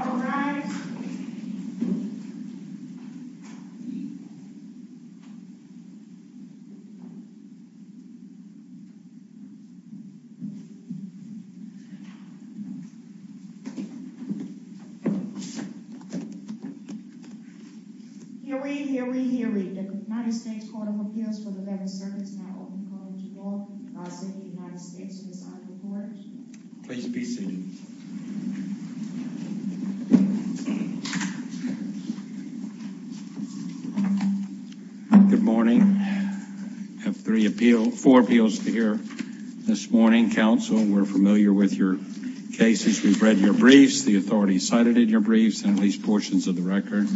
All rise. Hear, read, hear, read, hear, read. The United States Court of Appeals for the Veterans Service now open in front of you all. I'll send the United States to the side of the court. Please be seated. Thank you. Good morning. I have four appeals to hear this morning. Counsel, we're familiar with your cases. We've read your briefs, the authorities cited in your briefs, and at least portions of the record.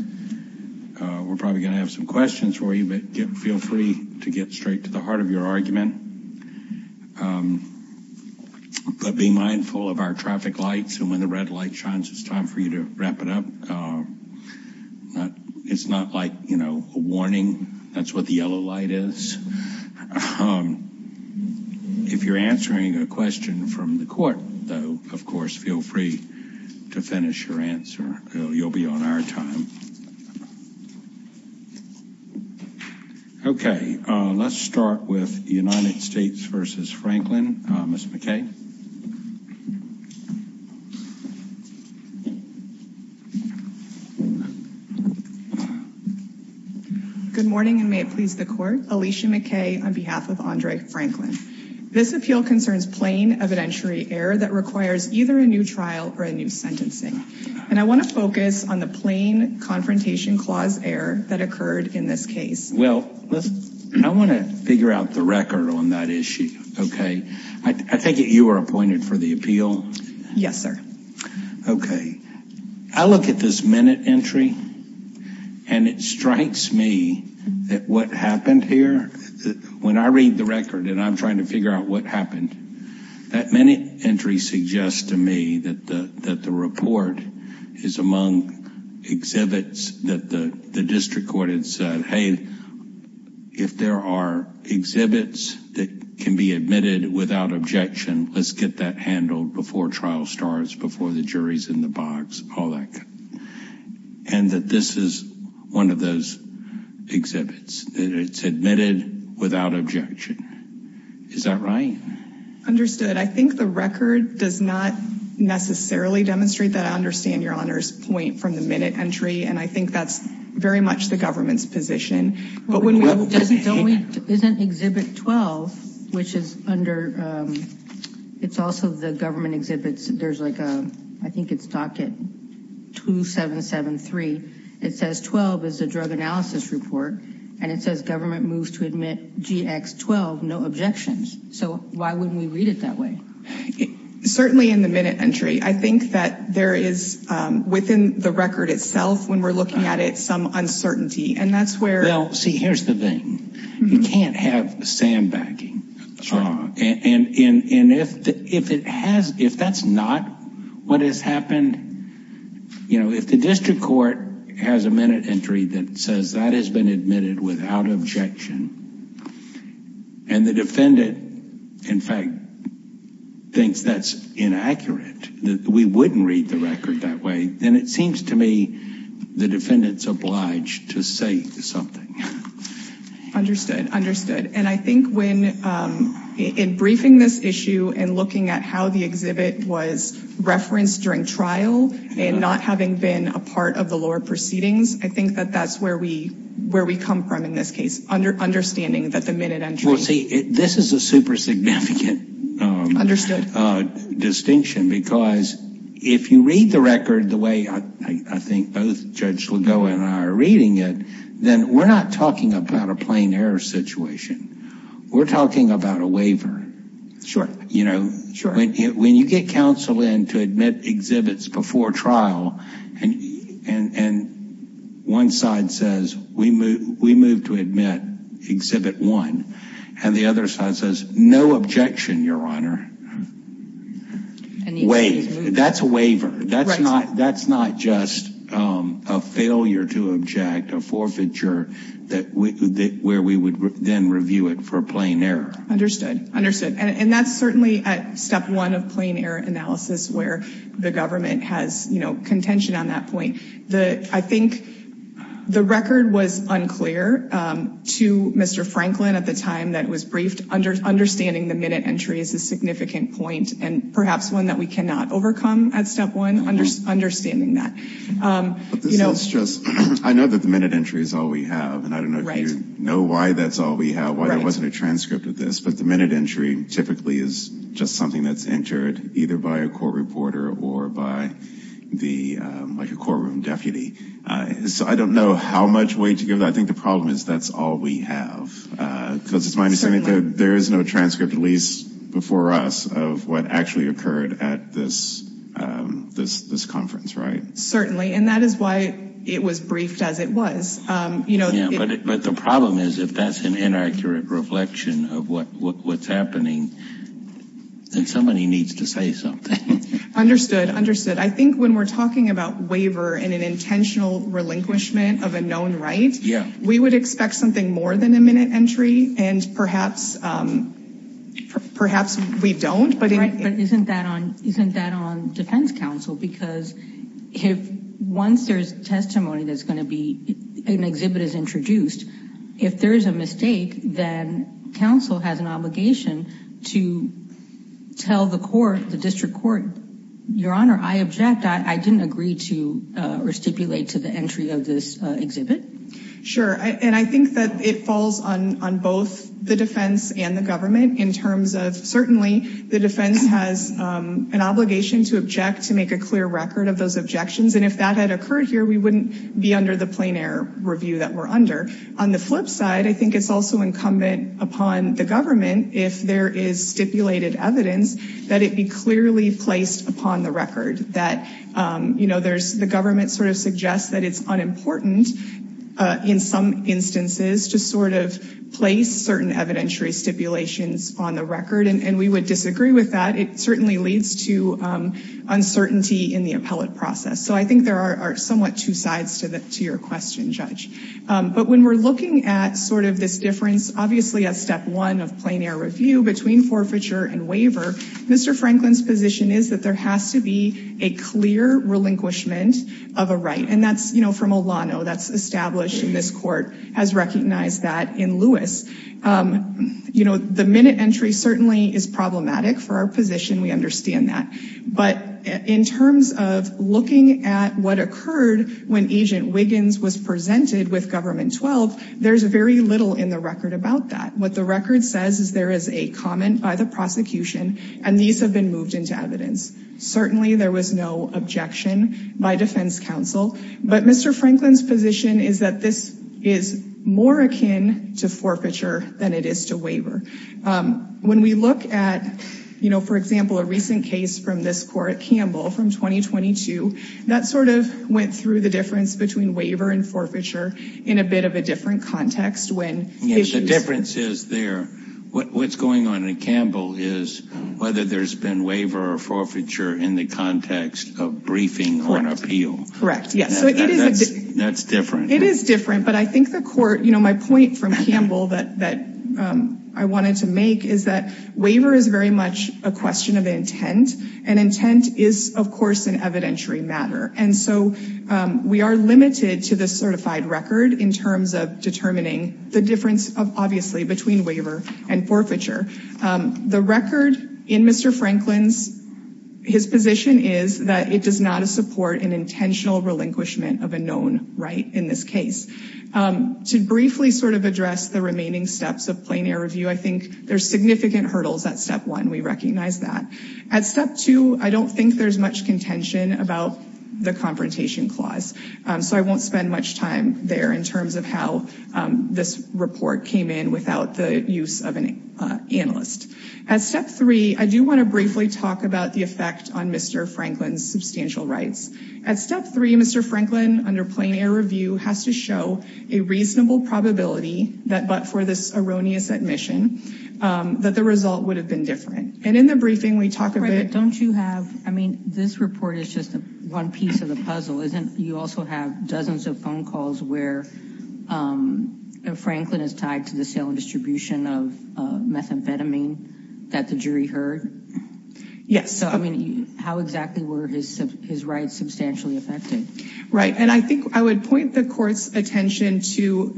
We're probably going to have some questions for you, but feel free to get straight to the heart of your argument. But be mindful of our traffic lights, and when the red light shines, it's time for you to wrap it up. It's not like, you know, a warning. That's what the yellow light is. If you're answering a question from the court, though, of course, feel free to finish your answer. You'll be on our time. Okay, let's start with United States v. Franklin. Ms. McKay. Good morning, and may it please the court. Alicia McKay on behalf of Andre Franklin. This appeal concerns plain evidentiary error that requires either a new trial or a new sentencing. And I want to focus on the plain confrontation clause error that occurred in this case. Well, I want to figure out the record on that issue, okay? I take it you were appointed for the appeal? Yes, sir. Okay. I look at this minute entry, and it strikes me that what happened here, when I read the record and I'm trying to figure out what happened, that minute entry suggests to me that the report is among exhibits that the district court had said, hey, if there are exhibits that can be admitted without objection, let's get that handled before trial starts, before the jury's in the box, all that good. And that this is one of those exhibits. It's admitted without objection. Is that right? I think the record does not necessarily demonstrate that. I understand Your Honor's point from the minute entry, and I think that's very much the government's position. But when we look at the exhibit 12, which is under, it's also the government exhibits. There's like a, I think it's docket 2773. It says 12 is a drug analysis report, and it says government moves to admit GX12, no objections. So why wouldn't we read it that way? Certainly in the minute entry. I think that there is, within the record itself, when we're looking at it, some uncertainty. And that's where – Well, see, here's the thing. You can't have sandbagging. And if that's not what has happened, you know, if the district court has a minute entry that says that has been admitted without objection, and the defendant, in fact, thinks that's inaccurate, that we wouldn't read the record that way, then it seems to me the defendant's obliged to say something. Understood, understood. And I think when, in briefing this issue and looking at how the exhibit was referenced during trial and not having been a part of the lower proceedings, I think that that's where we come from in this case, understanding that the minute entry – Well, see, this is a super significant – Understood. Distinction, because if you read the record the way I think both Judge Lagoa and I are reading it, then we're not talking about a plain error situation. We're talking about a waiver. You know, when you get counsel in to admit exhibits before trial, and one side says, we move to admit exhibit one, and the other side says, no objection, Your Honor. And the exhibit is moved. That's a waiver. That's not just a failure to object, a forfeiture, where we would then review it for plain error. Understood, understood. And that's certainly at step one of plain error analysis where the government has contention on that point. I think the record was unclear to Mr. Franklin at the time that it was briefed. Understanding the minute entry is a significant point and perhaps one that we cannot overcome at step one, understanding that. But this is just – I know that the minute entry is all we have. And I don't know if you know why that's all we have, why there wasn't a transcript of this. But the minute entry typically is just something that's entered either by a court reporter or by the – like a courtroom deputy. So I don't know how much weight to give. I think the problem is that's all we have. There is no transcript, at least before us, of what actually occurred at this conference, right? Certainly. And that is why it was briefed as it was. But the problem is if that's an inaccurate reflection of what's happening, then somebody needs to say something. Understood, understood. I think when we're talking about waiver and an intentional relinquishment of a known right, we would expect something more than a minute entry, and perhaps we don't. But isn't that on defense counsel? Because once there's testimony that's going to be – an exhibit is introduced, if there is a mistake, then counsel has an obligation to tell the court, the district court, Your Honor, I object. I didn't agree to restipulate to the entry of this exhibit. Sure. And I think that it falls on both the defense and the government in terms of – certainly the defense has an obligation to object to make a clear record of those objections. And if that had occurred here, we wouldn't be under the plein air review that we're under. On the flip side, I think it's also incumbent upon the government, if there is stipulated evidence, that it be clearly placed upon the record. That, you know, the government sort of suggests that it's unimportant in some instances to sort of place certain evidentiary stipulations on the record. And we would disagree with that. It certainly leads to uncertainty in the appellate process. So I think there are somewhat two sides to your question, Judge. But when we're looking at sort of this difference, obviously at step one of plein air review between forfeiture and waiver, Mr. Franklin's position is that there has to be a clear relinquishment of a right. And that's, you know, from Olano. That's established, and this court has recognized that in Lewis. You know, the minute entry certainly is problematic for our position. We understand that. But in terms of looking at what occurred when Agent Wiggins was presented with Government 12, there's very little in the record about that. What the record says is there is a comment by the prosecution, and these have been moved into evidence. Certainly there was no objection by defense counsel. But Mr. Franklin's position is that this is more akin to forfeiture than it is to waiver. When we look at, you know, for example, a recent case from this court, Campbell, from 2022, that sort of went through the difference between waiver and forfeiture in a bit of a different context. The difference is there. What's going on in Campbell is whether there's been waiver or forfeiture in the context of briefing on appeal. Correct, yes. That's different. It is different. But I think the court, you know, my point from Campbell that I wanted to make is that waiver is very much a question of intent. And intent is, of course, an evidentiary matter. And so we are limited to this certified record in terms of determining the difference, obviously, between waiver and forfeiture. The record in Mr. Franklin's, his position is that it does not support an intentional relinquishment of a known right in this case. To briefly sort of address the remaining steps of plain air review, I think there's significant hurdles at step one. We recognize that. At step two, I don't think there's much contention about the confrontation clause. So I won't spend much time there in terms of how this report came in without the use of an analyst. At step three, I do want to briefly talk about the effect on Mr. Franklin's substantial rights. At step three, Mr. Franklin, under plain air review, has to show a reasonable probability that but for this erroneous admission, that the result would have been different. And in the briefing, we talk a bit. Don't you have, I mean, this report is just one piece of the puzzle, isn't it? You also have dozens of phone calls where Franklin is tied to the sale and distribution of methamphetamine that the jury heard. Yes. I mean, how exactly were his rights substantially affected? Right. And I think I would point the court's attention to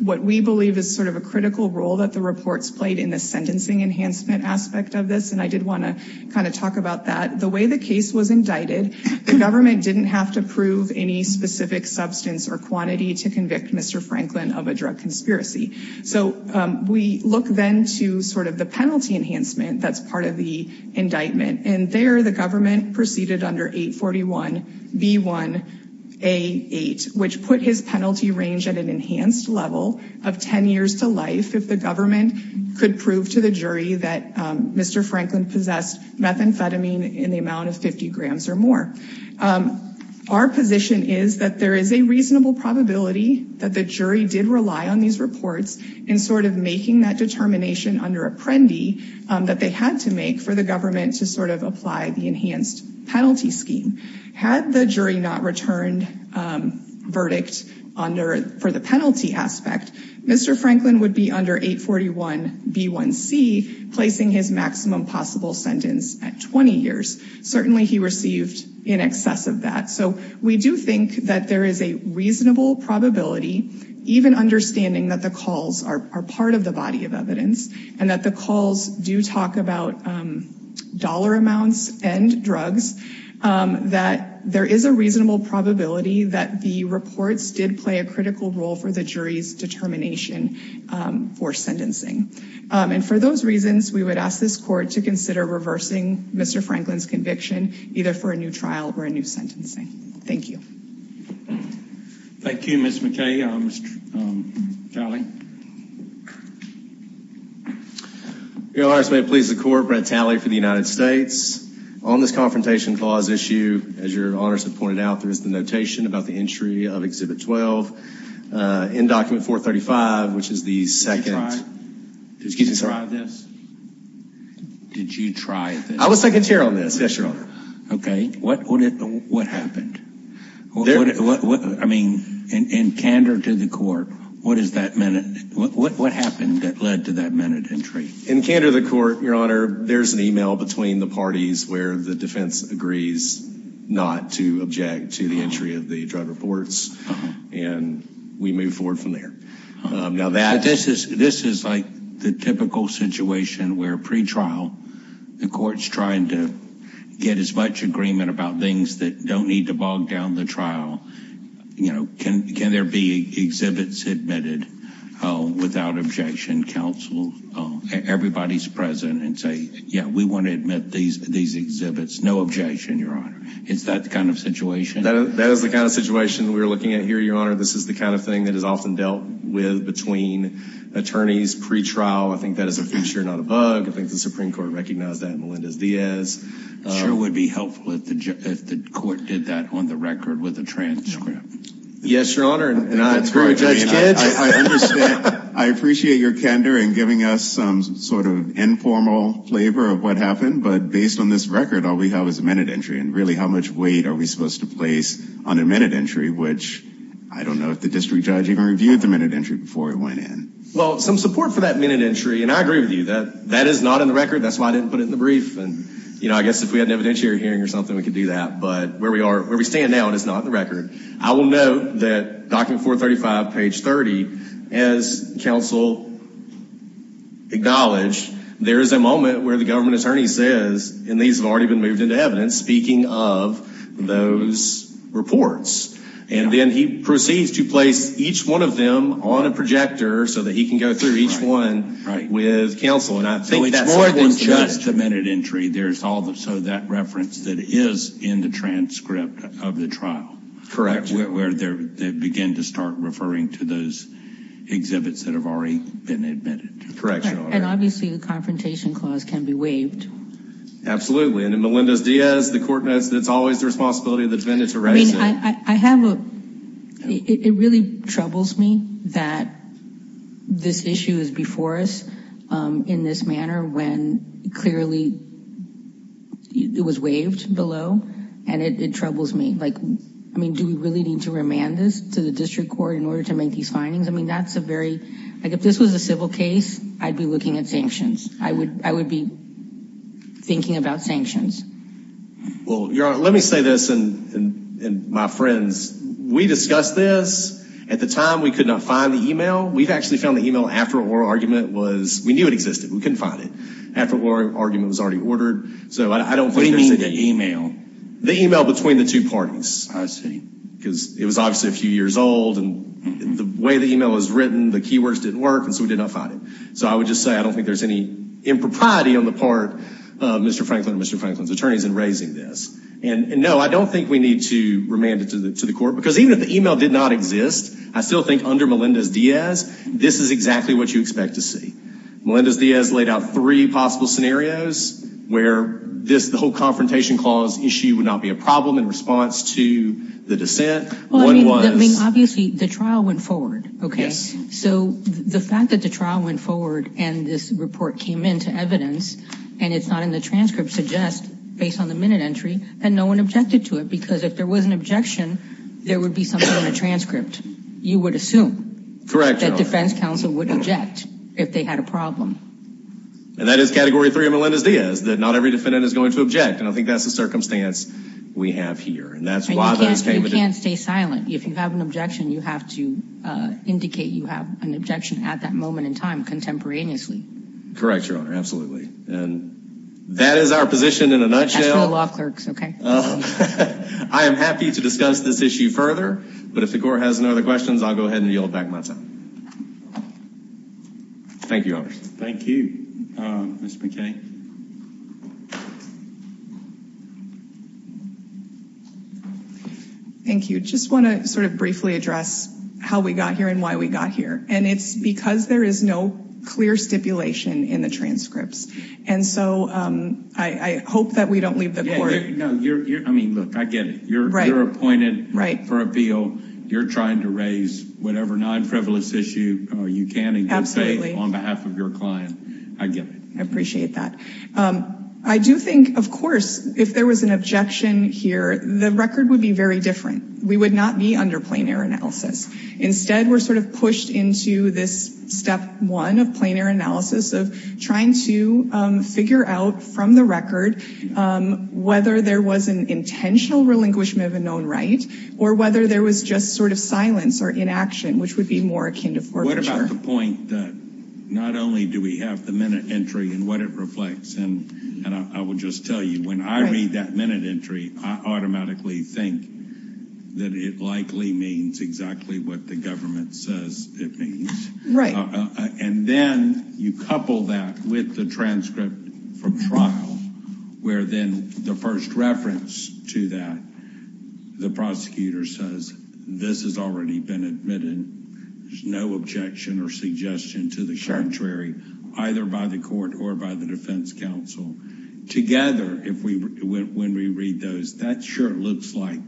what we believe is sort of a critical role that the reports played in the sentencing enhancement aspect of this. And I did want to kind of talk about that. The way the case was indicted, the government didn't have to prove any specific substance or quantity to convict Mr. Franklin of a drug conspiracy. So we look then to sort of the penalty enhancement that's part of the indictment. And there the government proceeded under 841B1A8, which put his penalty range at an enhanced level of 10 years to life. If the government could prove to the jury that Mr. Franklin possessed methamphetamine in the amount of 50 grams or more. Our position is that there is a reasonable probability that the jury did rely on these reports in sort of making that determination under Apprendi that they had to make for the government to sort of apply the enhanced penalty scheme. Had the jury not returned verdict for the penalty aspect, Mr. Franklin would be under 841B1C, placing his maximum possible sentence at 20 years. Certainly he received in excess of that. So we do think that there is a reasonable probability, even understanding that the calls are part of the body of evidence and that the calls do talk about dollar amounts and drugs, that there is a reasonable probability that the reports did play a critical role for the jury's determination for sentencing. And for those reasons, we would ask this court to consider reversing Mr. Franklin's conviction, either for a new trial or a new sentencing. Thank you. Thank you, Ms. McKay. Mr. Talley. Your Honors, may it please the court, Brett Talley for the United States. On this Confrontation Clause issue, as your Honors have pointed out, there is the notation about the entry of Exhibit 12 in Document 435, which is the second… Excuse me, sir. Did you try this? Did you try this? I was second chair on this. Yes, Your Honor. Okay. What happened? I mean, in candor to the court, what happened that led to that minute entry? In candor to the court, Your Honor, there is an email between the parties where the defense agrees not to object to the entry of the drug reports, and we move forward from there. This is like the typical situation where pre-trial, the court's trying to get as much agreement about things that don't need to bog down the trial. You know, can there be exhibits admitted without objection? Counsel, everybody's present, and say, yeah, we want to admit these exhibits. No objection, Your Honor. Is that the kind of situation? That is the kind of situation we're looking at here, Your Honor. This is the kind of thing that is often dealt with between attorneys pre-trial. I think that is a feature, not a bug. I think the Supreme Court recognized that in Melendez-Diaz. It sure would be helpful if the court did that on the record with a transcript. Yes, Your Honor. That's right, Judge Kidd. I appreciate your candor in giving us some sort of informal flavor of what happened, but based on this record, all we have is a minute entry. Really, how much weight are we supposed to place on a minute entry, which I don't know if the district judge even reviewed the minute entry before it went in. Well, some support for that minute entry, and I agree with you. That is not in the record. That's why I didn't put it in the brief. I guess if we had an evidentiary hearing or something, we could do that, but where we stand now, it is not in the record. I will note that document 435, page 30, as counsel acknowledged, there is a moment where the government attorney says, and these have already been moved into evidence, speaking of those reports, and then he proceeds to place each one of them on a projector so that he can go through each one with counsel, and I think that's more than just the minute entry. There's also that reference that is in the transcript of the trial. Where they begin to start referring to those exhibits that have already been admitted. Correct, Your Honor. And obviously the confrontation clause can be waived. Absolutely. And in Melendez-Diaz, the court notes that it's always the responsibility of the defendant to raise it. It really troubles me that this issue is before us in this manner when clearly it was waived below, and it troubles me. I mean, do we really need to remand this to the district court in order to make these findings? I mean, that's a very, like if this was a civil case, I'd be looking at sanctions. I would be thinking about sanctions. Well, Your Honor, let me say this, and my friends, we discussed this. At the time, we could not find the email. We actually found the email after oral argument was, we knew it existed. We couldn't find it. After oral argument was already ordered, so I don't think there's a... What do you mean the email? The email between the two parties. I see. Because it was obviously a few years old, and the way the email was written, the keywords didn't work, and so we did not find it. So I would just say I don't think there's any impropriety on the part of Mr. Franklin and Mr. Franklin's attorneys in raising this. And, no, I don't think we need to remand it to the court, because even if the email did not exist, I still think under Melendez-Diaz, this is exactly what you expect to see. Melendez-Diaz laid out three possible scenarios where this whole confrontation clause issue would not be a problem in response to the dissent. One was... Well, I mean, obviously, the trial went forward, okay? Yes. So the fact that the trial went forward and this report came into evidence, and it's not in the transcript, suggests, based on the minute entry, that no one objected to it, because if there was an objection, there would be something in the transcript. You would assume... ...that defense counsel would object if they had a problem. And that is Category 3 of Melendez-Diaz, that not every defendant is going to object, and I think that's the circumstance we have here, and that's why... And you can't stay silent. If you have an objection, you have to indicate you have an objection at that moment in time, contemporaneously. Correct, Your Honor, absolutely. And that is our position in a nutshell. That's for the law clerks, okay? I am happy to discuss this issue further, but if the court has no other questions, I'll go ahead and yield back my time. Thank you, Your Honor. Thank you. Mr. McKay. Thank you. Just want to sort of briefly address how we got here and why we got here. And it's because there is no clear stipulation in the transcripts. And so I hope that we don't leave the court... No, I mean, look, I get it. You're appointed for appeal. You're trying to raise whatever non-frivolous issue you can and can say on behalf of your client. I get it. I appreciate that. I do think, of course, if there was an objection here, the record would be very different. We would not be under plein air analysis. Instead, we're sort of pushed into this step one of plein air analysis of trying to figure out from the record whether there was an intentional relinquishment of a known right or whether there was just sort of silence or inaction, which would be more akin to forfeiture. What about the point that not only do we have the minute entry and what it reflects? And I will just tell you, when I read that minute entry, I automatically think that it likely means exactly what the government says it means. Right. And then you couple that with the transcript from trial, where then the first reference to that, the prosecutor says this has already been admitted. There's no objection or suggestion to the contrary, either by the court or by the defense counsel. Together, when we read those, that sure looks like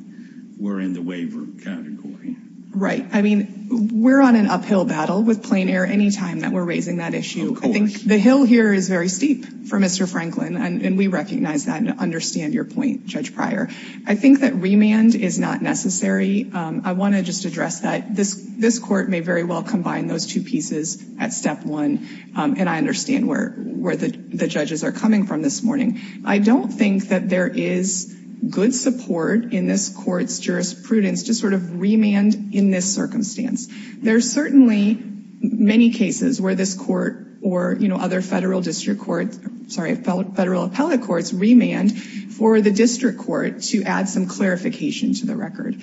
we're in the waiver category. Right. I mean, we're on an uphill battle with plein air any time that we're raising that issue. I think the hill here is very steep for Mr. Franklin, and we recognize that and understand your point, Judge Pryor. I think that remand is not necessary. I want to just address that. This court may very well combine those two pieces at step one, and I understand where the judges are coming from this morning. I don't think that there is good support in this court's jurisprudence to sort of remand in this circumstance. There are certainly many cases where this court or other federal district courts, sorry, federal appellate courts remand for the district court to add some clarification to the record.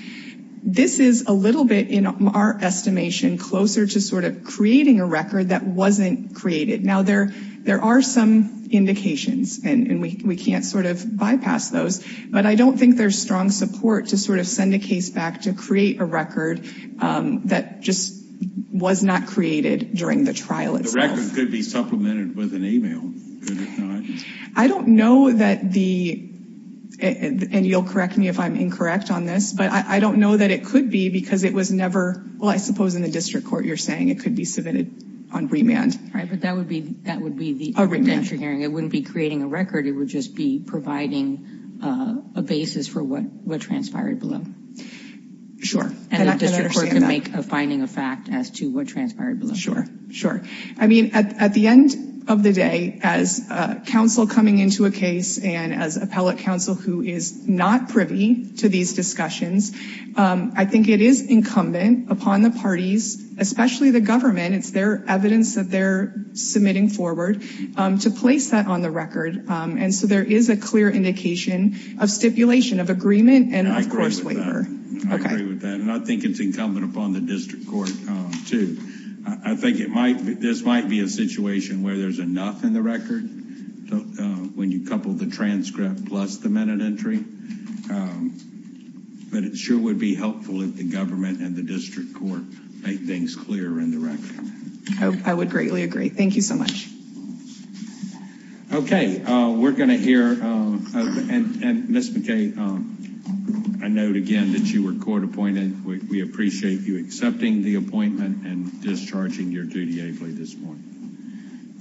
This is a little bit, in our estimation, closer to sort of creating a record that wasn't created. Now, there are some indications, and we can't sort of bypass those. But I don't think there's strong support to sort of send a case back to create a record that just was not created during the trial itself. The record could be supplemented with an email, could it not? I don't know that the, and you'll correct me if I'm incorrect on this, but I don't know that it could be because it was never, well, I suppose in the district court you're saying it could be submitted on remand. Right, but that would be the, A remand. It wouldn't be creating a record, it would just be providing a basis for what transpired below. And the district court could make a finding of fact as to what transpired below. Sure, sure. I mean, at the end of the day, as counsel coming into a case and as appellate counsel who is not privy to these discussions, I think it is incumbent upon the parties, especially the government, it's their evidence that they're submitting forward, to place that on the record. And so there is a clear indication of stipulation, of agreement, and of course, waiver. I agree with that. And I think it's incumbent upon the district court, too. I think it might, this might be a situation where there's enough in the record, when you couple the transcript plus the minute entry. But it sure would be helpful if the government and the district court make things clear in the record. I would greatly agree. Thank you so much. Okay. We're going to hear, and Ms. McKay, I note again that you were court appointed. We appreciate you accepting the appointment and discharging your duty ably this morning.